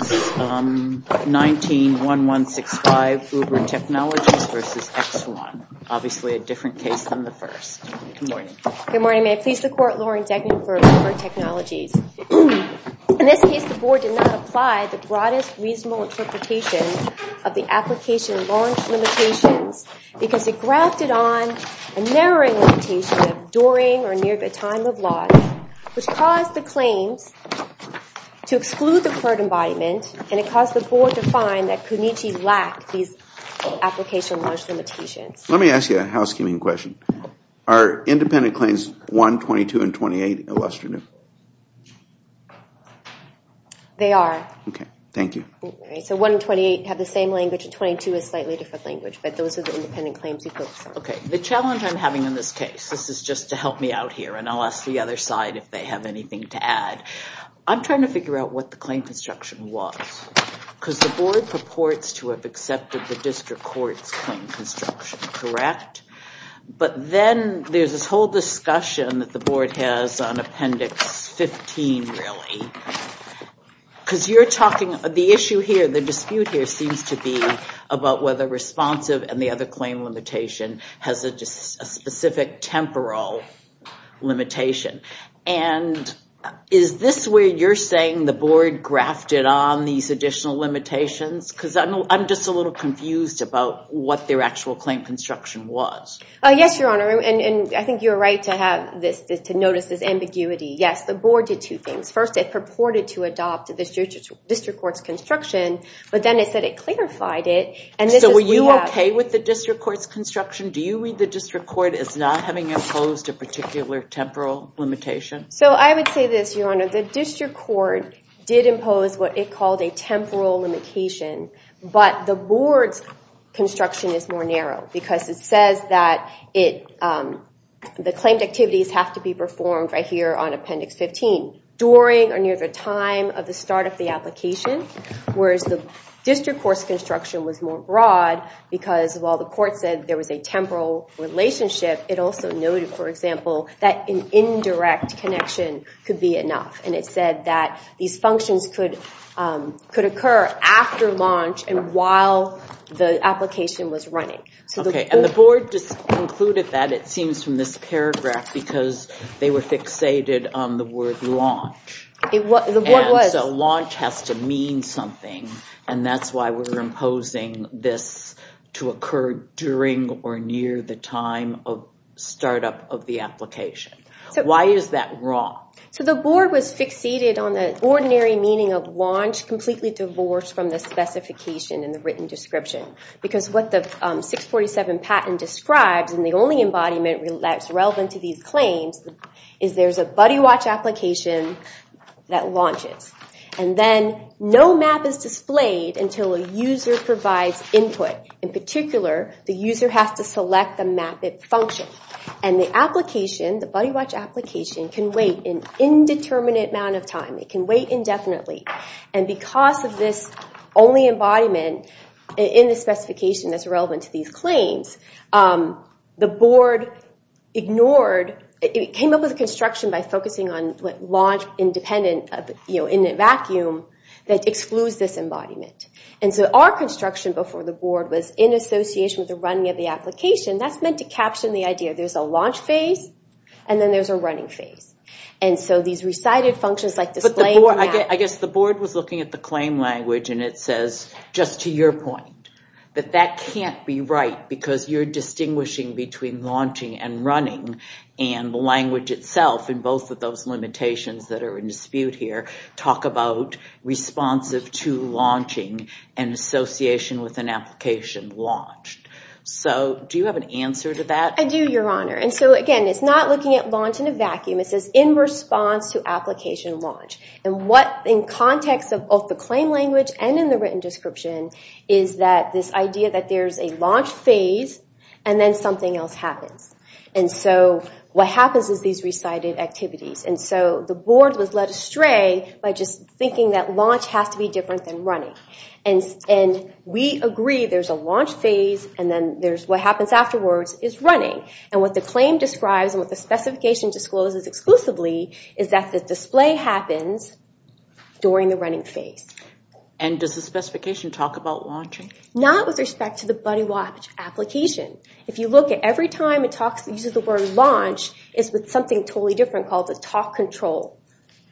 19-1165, Uber Technologies v. X One. Obviously a different case than the first. Good morning. Good morning. May I please the Court, Lauren Degnan for Uber Technologies. In this case, the Board did not apply the broadest reasonable interpretation of the application and launch limitations because it grafted on a narrowing limitation during or near the time of launch which caused the claims to exclude the current embodiment and it caused the Board to find that Kunichi lacked these application launch limitations. Let me ask you a housekeeping question. Are independent claims 1, 22, and 28 illustrious? They are. Okay. Thank you. So 1 and 28 have the same language and 22 is a slightly different language but those are the independent claims you focus on. Okay. The challenge I'm having in this case, this is just to help me out here and I'll ask the other side if they have anything to add. I'm trying to figure out what the claim construction was because the Board purports to have accepted the District Court's claim construction, correct? But then there's this whole discussion that the Board has on Appendix 15 really because you're talking, the issue here, the dispute here seems to be about whether responsive and the other claim limitation has a specific temporal limitation. And is this where you're saying the Board grafted on these additional limitations? Because I'm just a little confused about what their actual claim construction was. Yes, Your Honor. And I think you're right to notice this ambiguity. Yes, the Board did two things. First, it purported to adopt the District Court's construction but then it said it clarified it. So were you okay with the District Court's construction? Do you read the District Court as not having imposed a particular temporal limitation? So I would say this, Your Honor. The District Court did impose what it called a temporal limitation but the Board's construction is more narrow because it says that the claimed activities have to be performed right here on Appendix 15 during or near the time of the start of the application whereas the District Court's construction was more broad because while the Court said there was a temporal relationship, it also noted, for example, that an indirect connection could be enough. And it said that these functions could occur after launch and while the application was running. Okay, and the Board just concluded that, it seems, from this paragraph because they were fixated on the word launch. The Board was. And so launch has to mean something and that's why we're imposing this to occur during or near the time of startup of the application. Why is that wrong? So the Board was fixated on the ordinary meaning of launch completely divorced from the specification in the written description because what the 647 patent describes and the only embodiment that's relevant to these claims is there's a buddy watch application that launches and then no map is displayed until a user provides input. In particular, the user has to select the map function and the application, the buddy watch application, can wait an indeterminate amount of time. It can wait indefinitely. And because of this only embodiment in the specification that's relevant to these claims, the Board ignored, it came up with a construction by focusing on launch independent in a vacuum that excludes this embodiment. And so our construction before the Board was in association with the running of the application. That's meant to caption the idea. There's a launch phase and then there's a running phase. And so these recited functions like displaying the map... I guess the Board was looking at the claim language and it says, just to your point, that that can't be right because you're distinguishing between launching and running and the language itself and both of those limitations that are in dispute here talk about responsive to launching and association with an application launched. So do you have an answer to that? I do, Your Honor. And so again, it's not looking at launch in a vacuum. It says in response to application launch. And what in context of both the claim language and in the written description is that this idea that there's a launch phase and then something else happens. And so what happens is these recited activities. And so the Board was led astray by just thinking that launch has to be different than running. And we agree there's a launch phase and then what happens afterwards is running. And what the claim describes and what the specification discloses exclusively is that the display happens during the running phase. And does the specification talk about launching? Not with respect to the BuddyWatch application. If you look at every time it uses the word launch, it's with something totally different called the talk control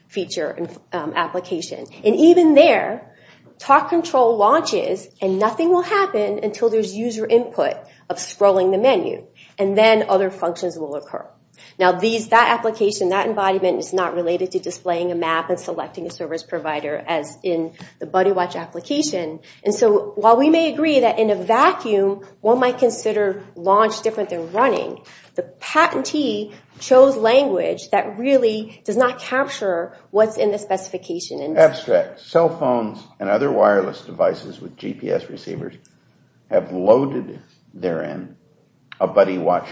feature application. And even there, talk control launches and nothing will happen until there's user input of scrolling the menu. And then other functions will occur. Now that application, that embodiment is not related to displaying a map and selecting a service provider as in the BuddyWatch application. And so while we may agree that in a vacuum one might consider launch different than running, the patentee chose language that really does not capture what's in the specification. Abstract. Cell phones and other wireless devices with GPS receivers have loaded therein a BuddyWatch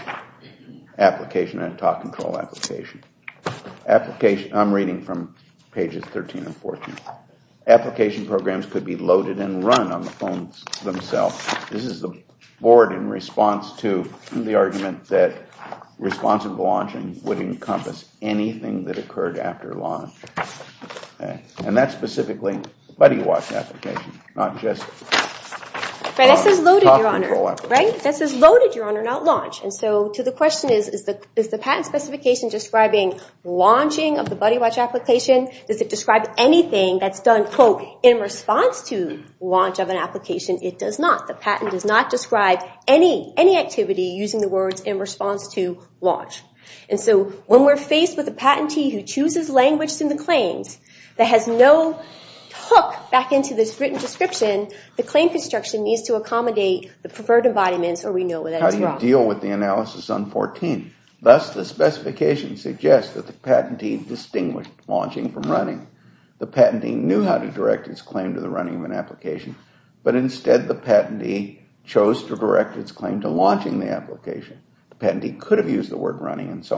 application, a talk control application. I'm reading from pages 13 and 14. Application programs could be loaded and run on the phones themselves. This is the Board in response to the argument that responsive launching would encompass anything that occurred after launch. And that's specifically BuddyWatch application, not just talk control application. Right, that says loaded, Your Honor, not launch. And so to the question is, is the patent specification describing launching of the BuddyWatch application? Does it describe anything that's done, quote, in response to launch of an application? It does not. The patent does not describe any activity using the words in response to launch. And so when we're faced with a patentee who chooses language in the claims that has no hook back into this written description, the claim construction needs to accommodate the preferred embodiments or we know that it's wrong. How do you deal with the analysis on 14? Thus the specification suggests that the patentee distinguished launching from running. The patentee knew how to direct its claim to the running of an application, but instead the patentee chose to direct its claim to launching the application. The patentee could have used the word running and so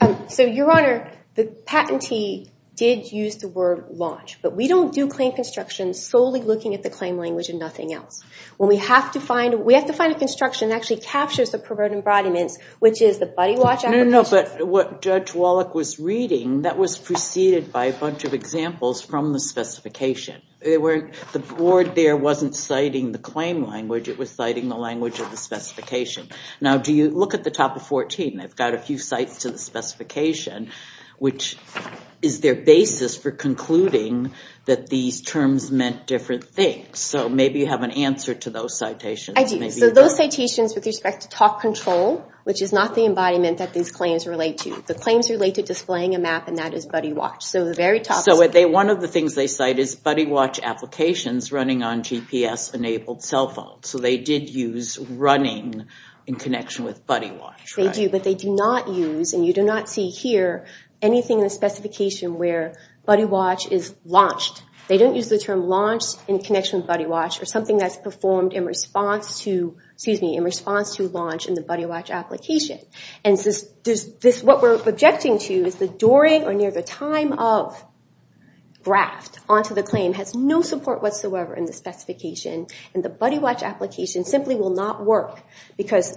on. So, Your Honor, the patentee did use the word launch, but we don't do claim construction solely looking at the claim language and nothing else. We have to find a construction that actually captures the preferred embodiments, which is the BuddyWatch application. No, no, no, but what Judge Wallach was reading, that was preceded by a bunch of examples from the specification. The board there wasn't citing the claim language, it was citing the language of the specification. Now, do you look at the top of 14? I've got a few sites to the specification, which is their basis for concluding that these terms meant different things. So maybe you have an answer to those citations. I do. So those citations with respect to talk control, which is not the embodiment that these claims relate to. The claims relate to displaying a map and that is BuddyWatch. So the very top... So one of the things they cite is BuddyWatch applications running on GPS-enabled cell phones. So they did use running in connection with BuddyWatch. They do, but they do not use, and you do not see here anything in the specification where BuddyWatch is launched. They don't use the term launched in connection with BuddyWatch or something that's performed in response to launch in the BuddyWatch application. What we're objecting to is the during or near the time of graft onto the claim has no support whatsoever in the specification and the BuddyWatch application simply will not work because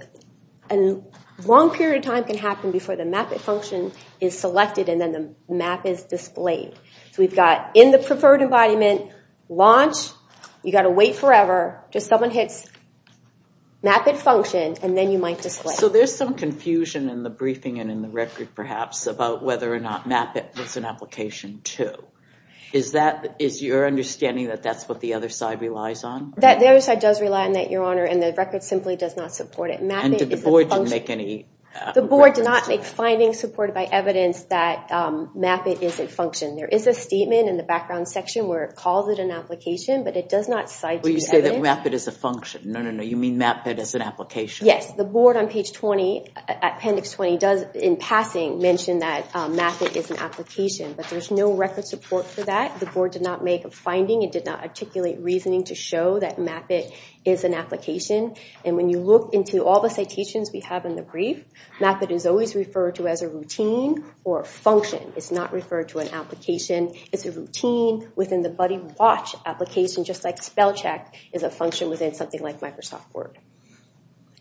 a long period of time can happen before the MAP-IT function is selected and then the map is displayed. So we've got in the preferred embodiment, launch, you gotta wait forever, just someone hits MAP-IT function and then you might display. So there's some confusion in the briefing and in the record perhaps about whether or not MAP-IT was an application too. Is your understanding that that's what the other side relies on? The other side does rely on that, Your Honor, and the record simply does not support it. MAP-IT is a function. And did the board make any... The board did not make findings supported by evidence that MAP-IT is a function. There is a statement in the background section where it calls it an application, but it does not cite the evidence. Well, you say that MAP-IT is a function. No, no, no, you mean MAP-IT is an application. Yes, the board on page 20, appendix 20, in passing mentioned that MAP-IT is an application, but there's no record support for that. The board did not make a finding. It did not articulate reasoning to show that MAP-IT is an application. And when you look into all the citations we have in the brief, MAP-IT is always referred to as a routine or a function. It's not referred to an application. It's a routine within the Buddy Watch application, just like spell check is a function within something like Microsoft Word.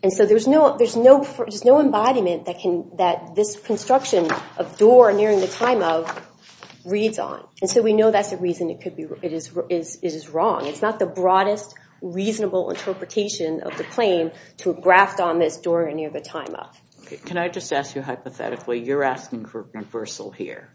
And so there's no embodiment that this construction of door nearing the time of reads on. And so we know that's the reason it could be... is wrong. It's not the broadest, reasonable interpretation of the claim to graft on this door near the time of. Can I just ask you hypothetically, you're asking for a reversal here.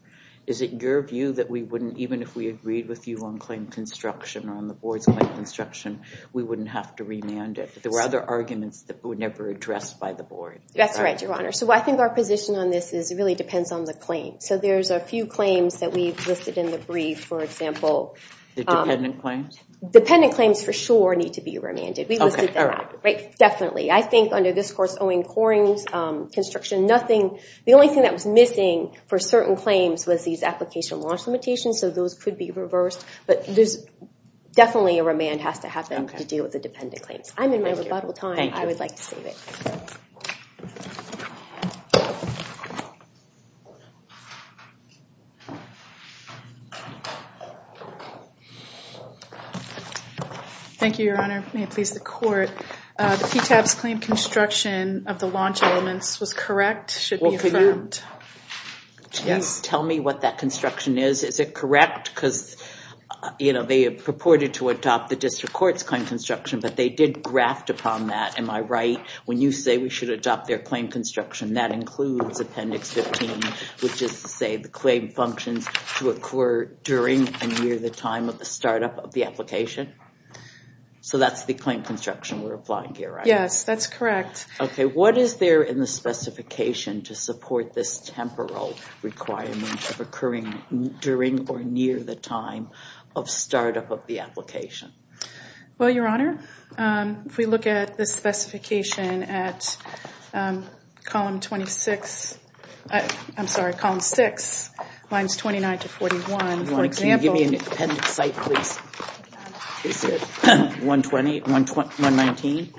Is it your view that we wouldn't, even if we agreed with you on claim construction or on the board's claim construction, we wouldn't have to remand it? There were other arguments that were never addressed by the board. That's right, Your Honor. So I think our position on this is it really depends on the claim. So there's a few claims that we've listed in the brief. For example... The dependent claims? Dependent claims for sure need to be remanded. We listed that. Definitely. I think under this course, owing coring construction, nothing... The only thing that was missing for certain claims was these application launch limitations, so those could be reversed. But there's definitely a remand has to happen to deal with the dependent claims. I'm in my rebuttal time. I would like to save it. Thank you, Your Honor. May it please the court. The PTAP's claim construction of the launch elements was correct, should be affirmed. Well, can you... Yes. Tell me what that construction is. Is it correct? Because, you know, they purported to adopt the district court's claim construction, but they did graft upon that. Am I right when you say we should adopt their claim construction? That includes Appendix 15, which is to say the claim functions to occur during and near the time of the startup of the application? So that's the claim construction we're applying here, right? Yes, that's correct. Okay. What is there in the specification to support this temporal requirement of occurring during or near the time of startup of the application? Well, Your Honor, if we look at the specification at column 26... I'm sorry. At column 6, lines 29 to 41, for example... Your Honor, can you give me an appendix site, please? Is it 120, 119?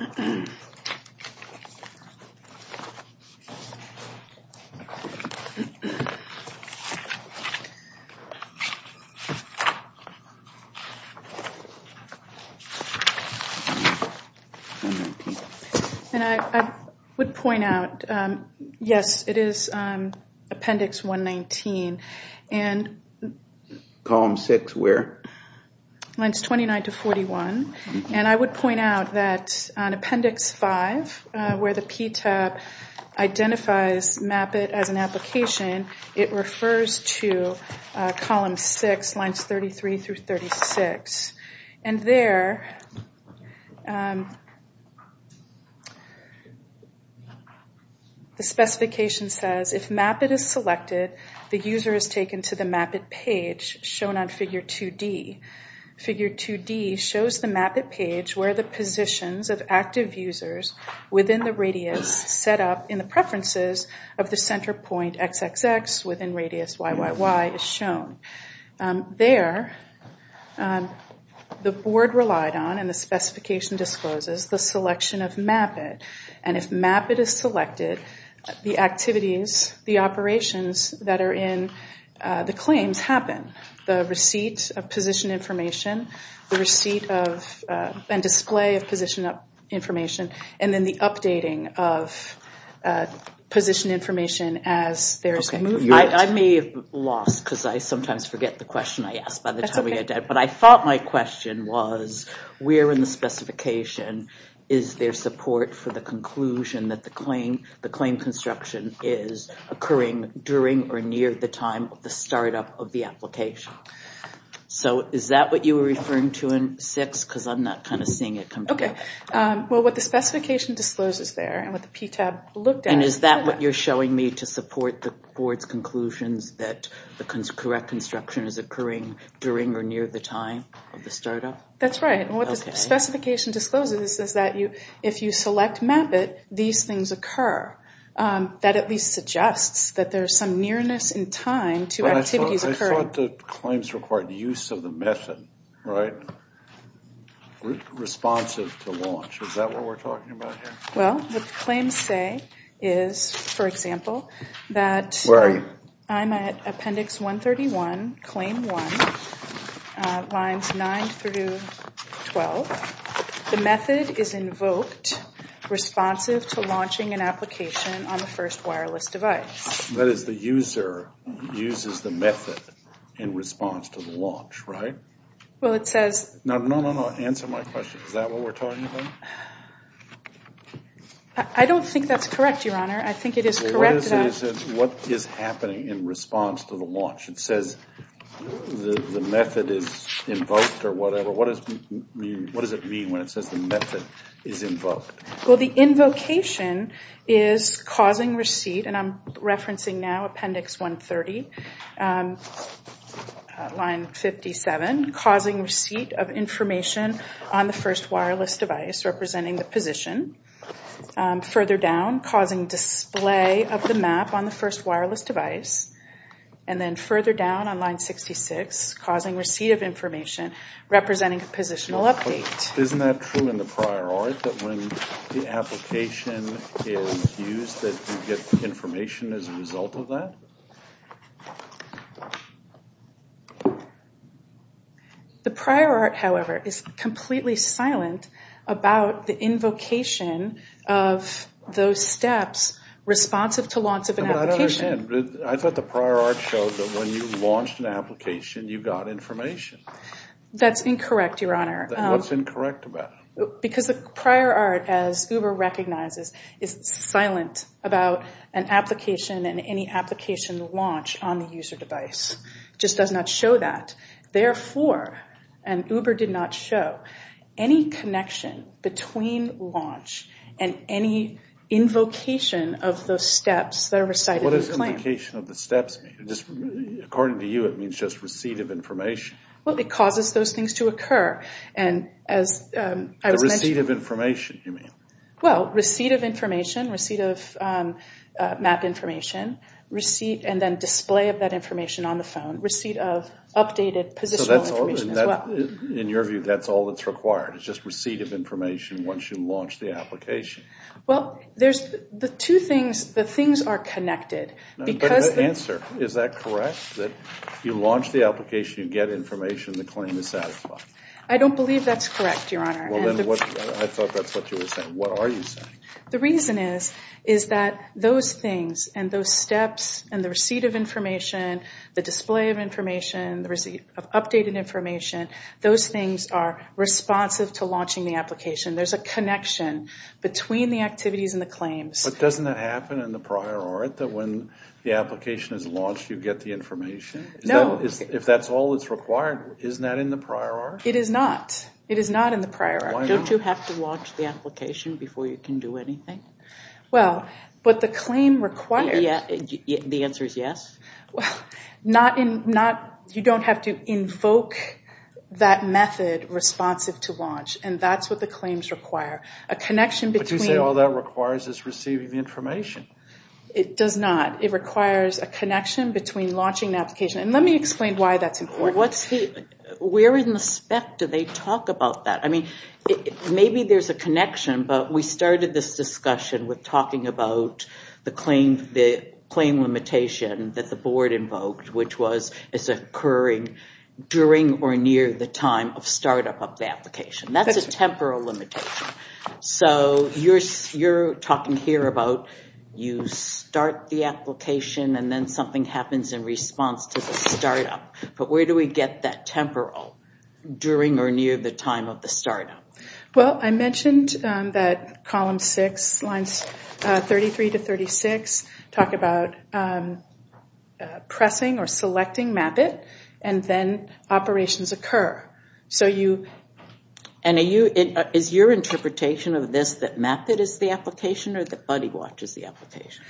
And I would point out, yes, it is Appendix 119. Column 6 where? Lines 29 to 41. And I would point out that on Appendix 5, where the PTAB identifies MAP-IT as an application, it refers to column 6, lines 33 through 36. And there... The specification says, if MAP-IT is selected, the user is taken to the MAP-IT page shown on Figure 2D. Figure 2D shows the MAP-IT page where the positions of active users within the radius set up in the preferences of the center point XXX within radius YYY is shown. There, the board relied on, and the specification discloses, the selection of MAP-IT. And if MAP-IT is selected, the activities, the operations that are in the claims happen. The receipt of position information, the receipt of and display of position information, and then the updating of position information as there is a movement. I may have lost because I sometimes forget the question I asked by the time we got done. But I thought my question was, where in the specification is there support for the conclusion that the claim construction is occurring during or near the time of the startup of the application? So is that what you were referring to in 6? Because I'm not kind of seeing it. Okay. Well, what the specification discloses there and what the PTAB looked at... And is that what you're showing me to support the board's conclusions that the correct construction is occurring during or near the time of the startup? That's right. And what the specification discloses is that if you select MAP-IT, these things occur. That at least suggests that there's some nearness in time to activities occurring. I thought the claims required use of the method, right? Responsive to launch. Is that what we're talking about here? Well, the claims say is, for example, that... Where are you? I'm at appendix 131, claim 1, lines 9 through 12. The method is invoked responsive to launching an application on the first wireless device. That is, the user uses the method in response to the launch, right? Well, it says... No, no, no, no. Answer my question. Is that what we're talking about? I don't think that's correct, Your Honor. I think it is correct that... What is happening in response to the launch? It says the method is invoked or whatever. What does it mean when it says the method is invoked? Well, the invocation is causing receipt, and I'm referencing now appendix 130, line 57, causing receipt of information on the first wireless device representing the position. Further down, causing display of the map on the first wireless device. And then further down on line 66, causing receipt of information representing a positional update. Isn't that true in the prior art that when the application is used that you get information as a result of that? The prior art, however, is completely silent about the invocation of those steps responsive to launch of an application. I thought the prior art showed that when you launched an application, you got information. That's incorrect, Your Honor. What's incorrect about it? Because the prior art, as Uber recognizes, is silent about an application and any application launch on the user device. It just does not show that. Therefore, and Uber did not show, any connection between launch and any invocation of those steps that are recited in the claim. What does invocation of the steps mean? According to you, it means just receipt of information. Well, it causes those things to occur. The receipt of information, you mean? Well, receipt of information, receipt of map information, receipt and then display of that information on the phone, receipt of updated positional information as well. In your view, that's all that's required is just receipt of information once you launch the application. Well, the two things, the things are connected. But the answer, is that correct? That you launch the application, you get information, the claim is satisfied? I don't believe that's correct, Your Honor. Well then, I thought that's what you were saying. What are you saying? The reason is, is that those things and those steps and the receipt of information, the display of information, the receipt of updated information, those things are responsive to launching the application. There's a connection between the activities and the claims. But doesn't that happen in the prior art that when the application is launched you get the information? No. If that's all that's required, isn't that in the prior art? It is not. It is not in the prior art. Why not? Don't you have to launch the application before you can do anything? Well, but the claim requires... The answer is yes? Well, not in, you don't have to invoke that method responsive to launch. And that's what the claims require. A connection between... But you say all that requires is receiving the information. It does not. It requires a connection between launching the application. And let me explain why that's important. Where in the spec do they talk about that? I mean, maybe there's a connection, but we started this discussion with talking about the claim limitation that the board invoked, which was, is occurring during or near the time of startup of the application. That's a temporal limitation. So, you're talking here about you start the application and then something happens in response to the startup. But where do we get that temporal? During or near the time of the startup? Well, I mentioned that column six, lines 33 to 36, talk about pressing or selecting MAP-IT and then operations occur. So you... And is your interpretation of this that MAP-IT is the application or that BuddyWatch is the application?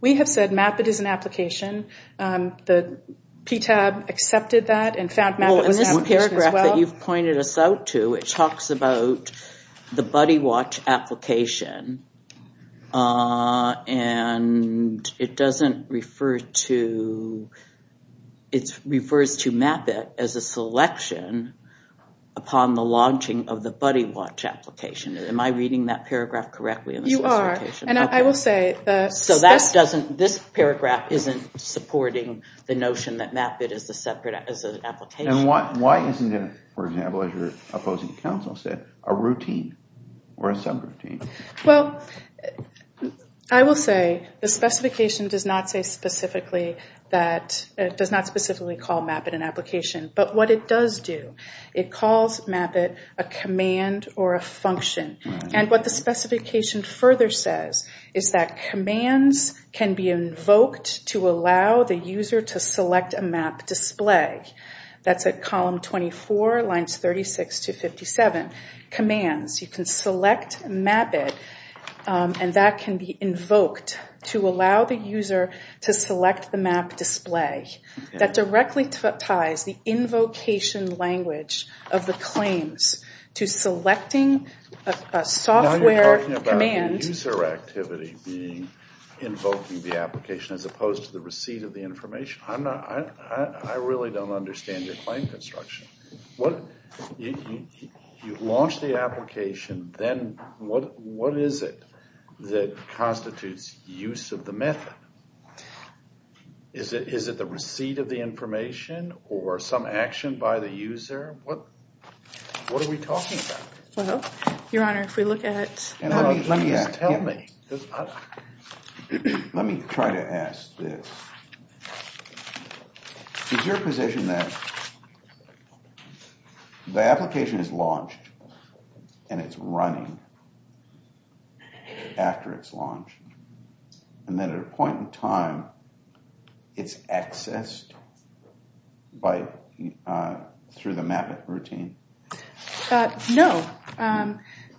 We have said MAP-IT is an application. The PTAB accepted that and found MAP-IT was an application as well. Well, in this paragraph that you've pointed us out to, it talks about the BuddyWatch application. And it doesn't refer to... It refers to MAP-IT as a selection upon the launching of the BuddyWatch application. Am I reading that paragraph correctly? You are. And I will say... So that doesn't... This paragraph isn't supporting the notion that MAP-IT is an application. And why isn't it, for example, as your opposing counsel said, a routine or a subroutine? Well, I will say the specification does not say specifically that... It does not specifically call MAP-IT an application. But what it does do, it calls MAP-IT a command or a function. And what the specification further says is that commands can be invoked to allow the user to select a map display. That's at column 24, lines 36 to 57. Commands. You can select MAP-IT and that can be invoked to allow the user to select the map display. That directly ties the invocation language of the claims to selecting a software command. Now you're talking about the user activity being invoking the application as opposed to the receipt of the information. I'm not... I really don't understand your claim construction. You launch the application, then what is it that constitutes use of the method? Is it the receipt of the information or some action by the user? What are we talking about? Your Honor, if we look at... Let me try to ask this. Is your position that the application is launched and it's running after it's launched and then at a point in time it's accessed through the MAP-IT routine? No.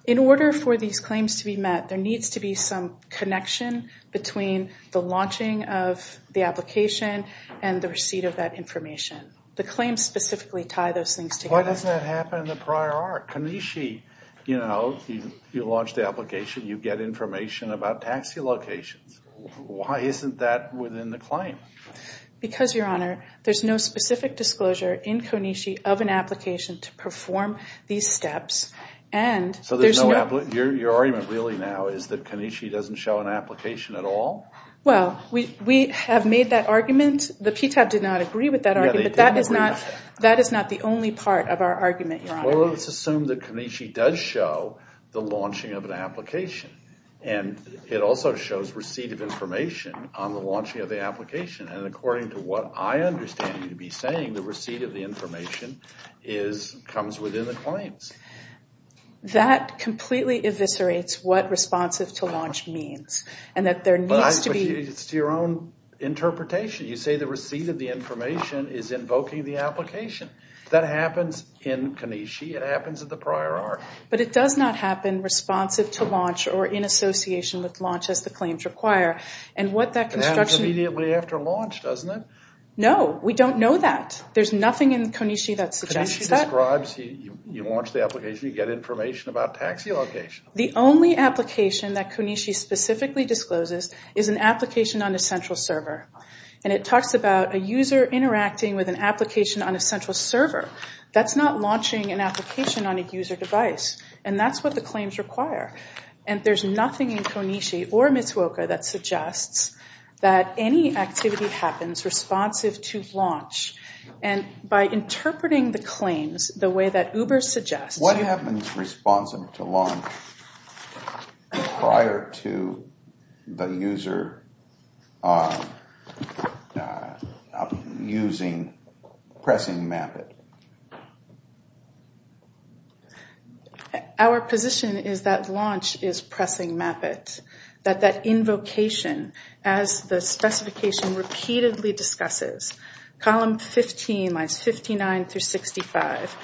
In order for these claims to be met, there needs to be some connection between the launching of the application and the receipt of that information. The claims specifically tie those things together. Why doesn't that happen in the prior art? Kanishi, you know, you launch the application, you get information about taxi locations. Why isn't that within the claim? Because, Your Honor, there's no specific disclosure in Kanishi of an application to perform these steps. And there's no... So there's no... Your argument really now is that Kanishi doesn't show an application at all? Well, we have made that argument. The PTAB did not agree with that argument. But that is not... That is not the only part of our argument, Your Honor. Well, let's assume that Kanishi does show the launching of an application. And it also shows receipt of information on the launching of the application. And according to what I understand you to be saying, the receipt of the information comes within the claims. That completely eviscerates what responsive to launch means. And that there needs to be... But it's to your own interpretation. You say the receipt of the information is invoking the application. That happens in Kanishi. It happens in the prior art. But it does not happen responsive to launch or in association with launch as the claims require. And what that construction... It happens immediately after launch, doesn't it? No. We don't know that. There's nothing in Kanishi that suggests that. Kanishi describes you launch the application. You get information about taxi location. The only application that Kanishi specifically discloses is an application on a central server. And it talks about a user interacting with an application on a central server. That's not launching an application on a user device. And that's what the claims require. And there's nothing in Kanishi or Mitsuoka that suggests that any activity happens responsive to launch. And by interpreting the claims the way that Uber suggests... What happens responsive to launch prior to the user pressing MAP-IT? Our position is that launch is pressing MAP-IT. That that invocation, as the specification repeatedly discusses, column 15, lines 59 through 65,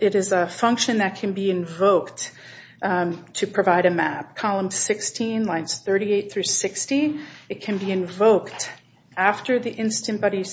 it is a function that can be invoked to provide a MAP. Column 16, lines 38 through 60, it can be invoked after the instant buddy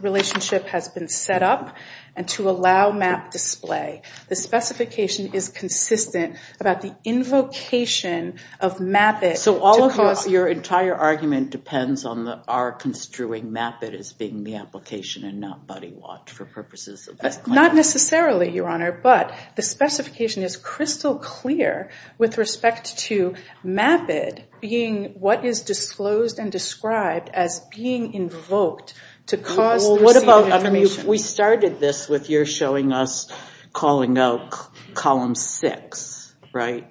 relationship has been set up and to allow MAP display. The specification is consistent about the invocation of MAP-IT... So all of your entire argument depends on our construing MAP-IT as being the application and not buddy watch for purposes of this claim? Not necessarily, Your Honor. But the specification is crystal clear with respect to MAP-IT being what is disclosed and described as being invoked to cause... Well, what about... We started this with your showing us calling out column 6, right?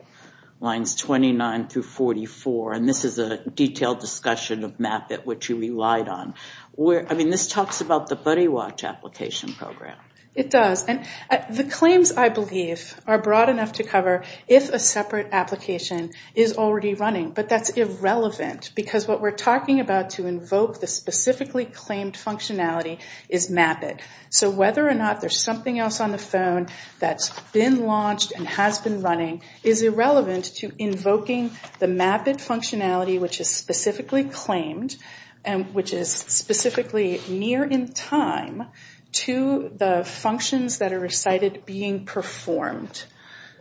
Lines 29 through 44. And this is a detailed discussion of MAP-IT which you relied on. I mean, this talks about the buddy watch application program. It does. And the claims, I believe, are broad enough to cover if a separate application is already running. But that's irrelevant because what we're talking about to invoke the specifically claimed functionality is MAP-IT. So whether or not there's something else on the phone that's been launched and has been running is irrelevant to invoking the MAP-IT functionality which is specifically claimed and which is specifically near in time to the functions that are recited being performed.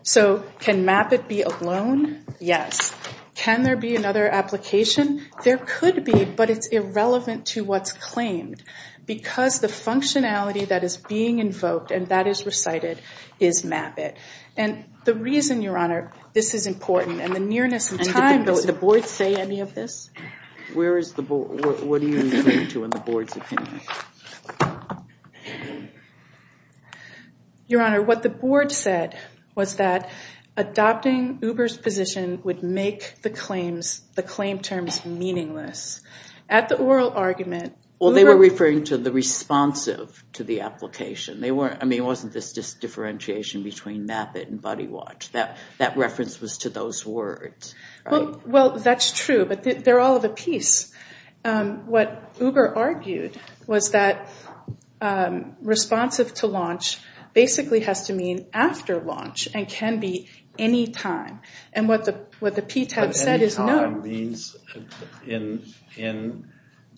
So can MAP-IT be alone? Yes. Can there be another application? There could be, but it's irrelevant to what's claimed because the functionality that is being invoked and that is recited is MAP-IT. And the reason, Your Honor, this is important, and the nearness of time, does the Board say any of this? Where is the Board? What are you referring to in the Board's opinion? Your Honor, what the Board said was that adopting Uber's position would make the claim terms meaningless. At the oral argument, Uber- Well, they were referring to the responsive to the application. I mean, it wasn't this differentiation between MAP-IT and buddy watch. That reference was to those words. Well, that's true, but they're all of a piece. What Uber argued was that responsive to launch basically has to mean after launch and can be any time. And what the PTAB said is no. But any time means in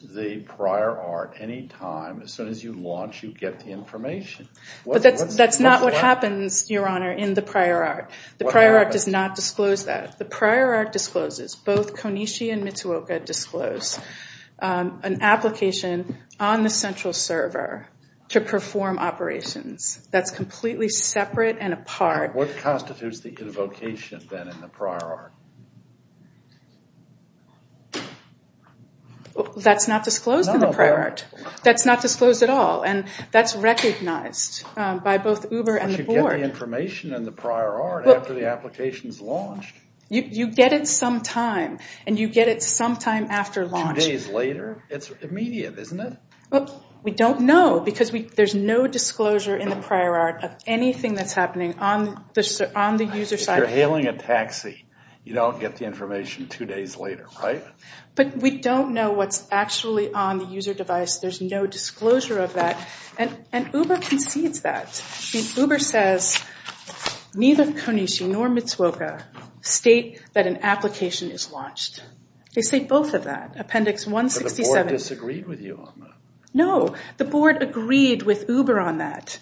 the prior art, any time, as soon as you launch you get the information. But that's not what happens, Your Honor, in the prior art. The prior art does not disclose that. The prior art discloses, both Konishi and Mitsuoka disclose, an application on the central server to perform operations. That's completely separate and apart. What constitutes the invocation, then, in the prior art? That's not disclosed in the prior art. That's not disclosed at all, and that's recognized by both Uber and the Board. You get the information in the prior art after the application is launched. You get it sometime, and you get it sometime after launch. Two days later? It's immediate, isn't it? We don't know because there's no disclosure in the prior art of anything that's happening on the user side. You're hailing a taxi. You don't get the information two days later, right? But we don't know what's actually on the user device. There's no disclosure of that, and Uber concedes that. Uber says neither Konishi nor Mitsuoka state that an application is launched. They say both of that, Appendix 167. But the Board disagreed with you on that. No, the Board agreed with Uber on that.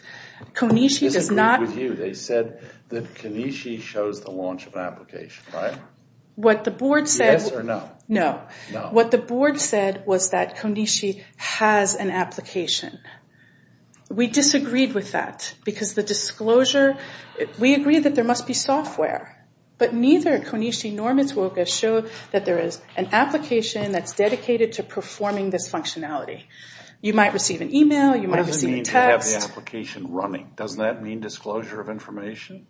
Konishi does not. They disagreed with you. They said that Konishi shows the launch of an application, right? What the Board said. Yes or no? No. No. What the Board said was that Konishi has an application. We disagreed with that because the disclosure, we agreed that there must be software. But neither Konishi nor Mitsuoka show that there is an application that's dedicated to performing this functionality. You might receive an email. You might receive a text. What does it mean to have the application running? Doesn't that mean disclosure of information?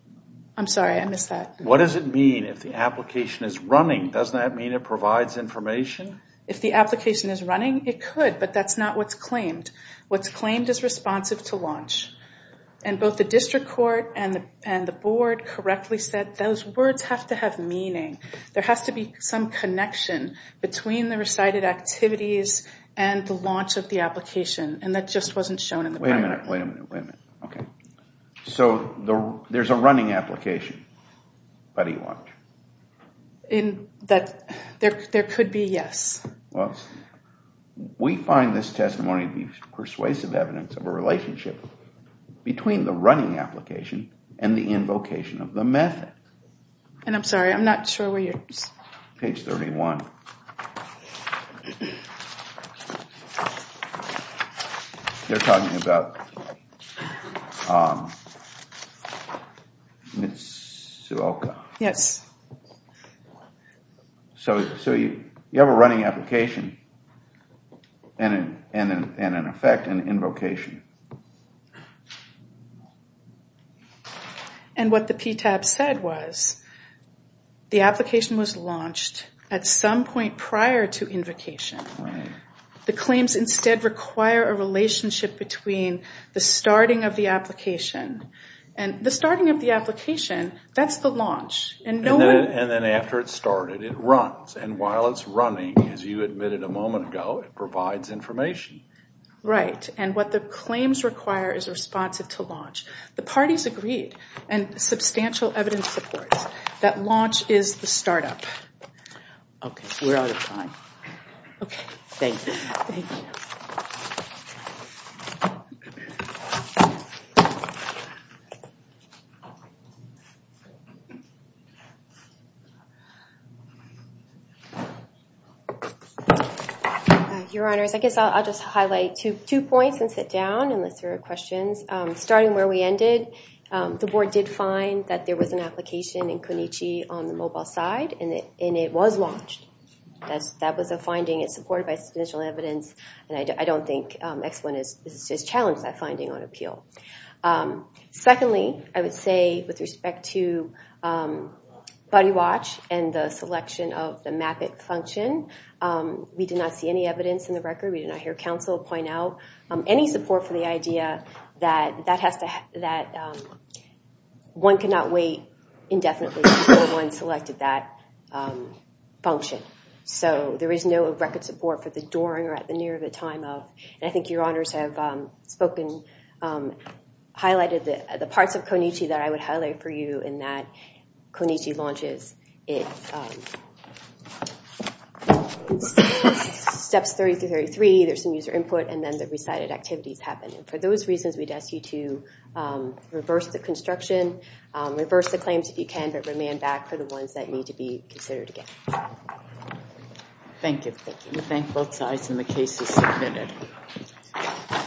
I'm sorry, I missed that. What does it mean if the application is running? Doesn't that mean it provides information? If the application is running, it could. But that's not what's claimed. What's claimed is responsive to launch. And both the District Court and the Board correctly said those words have to have meaning. There has to be some connection between the recited activities and the launch of the application. And that just wasn't shown in the primary. Wait a minute. Wait a minute. Okay. So there's a running application. How do you launch? In that there could be yes. Well, we find this testimony to be persuasive evidence of a relationship between the running application and the invocation of the method. And I'm sorry, I'm not sure where you're... Page 31. They're talking about Mitsuoka. Yes. So you have a running application and an effect, an invocation. And what the PTAB said was the application was launched at some point prior to invocation. Right. The claims instead require a relationship between the starting of the application. And the starting of the application, that's the launch. And then after it's started, it runs. And while it's running, as you admitted a moment ago, it provides information. Right. And what the claims require is responsive to launch. The parties agreed and substantial evidence supports that launch is the startup. Okay. We're out of time. Okay. Thank you. Thank you. Okay. Your Honors, I guess I'll just highlight two points and sit down and list your questions. Starting where we ended, the board did find that there was an application in Kunichi on the mobile side, and it was launched. That was a finding. It's supported by substantial evidence. And I don't think X1 has challenged that finding on appeal. Secondly, I would say with respect to Buddy Watch and the selection of the MAP-IT function, we did not see any evidence in the record. We did not hear counsel point out any support for the idea that one cannot wait indefinitely before one selected that function. So there is no record support for the during or at the near of a time of. And I think Your Honors have spoken, highlighted the parts of Kunichi that I would highlight for you, in that Kunichi launches in steps 30 through 33. There's some user input, and then the recited activities happen. And for those reasons, we'd ask you to reverse the construction, reverse the claims if you can, but remand back for the ones that need to be considered again. Thank you. We thank both sides, and the case is submitted.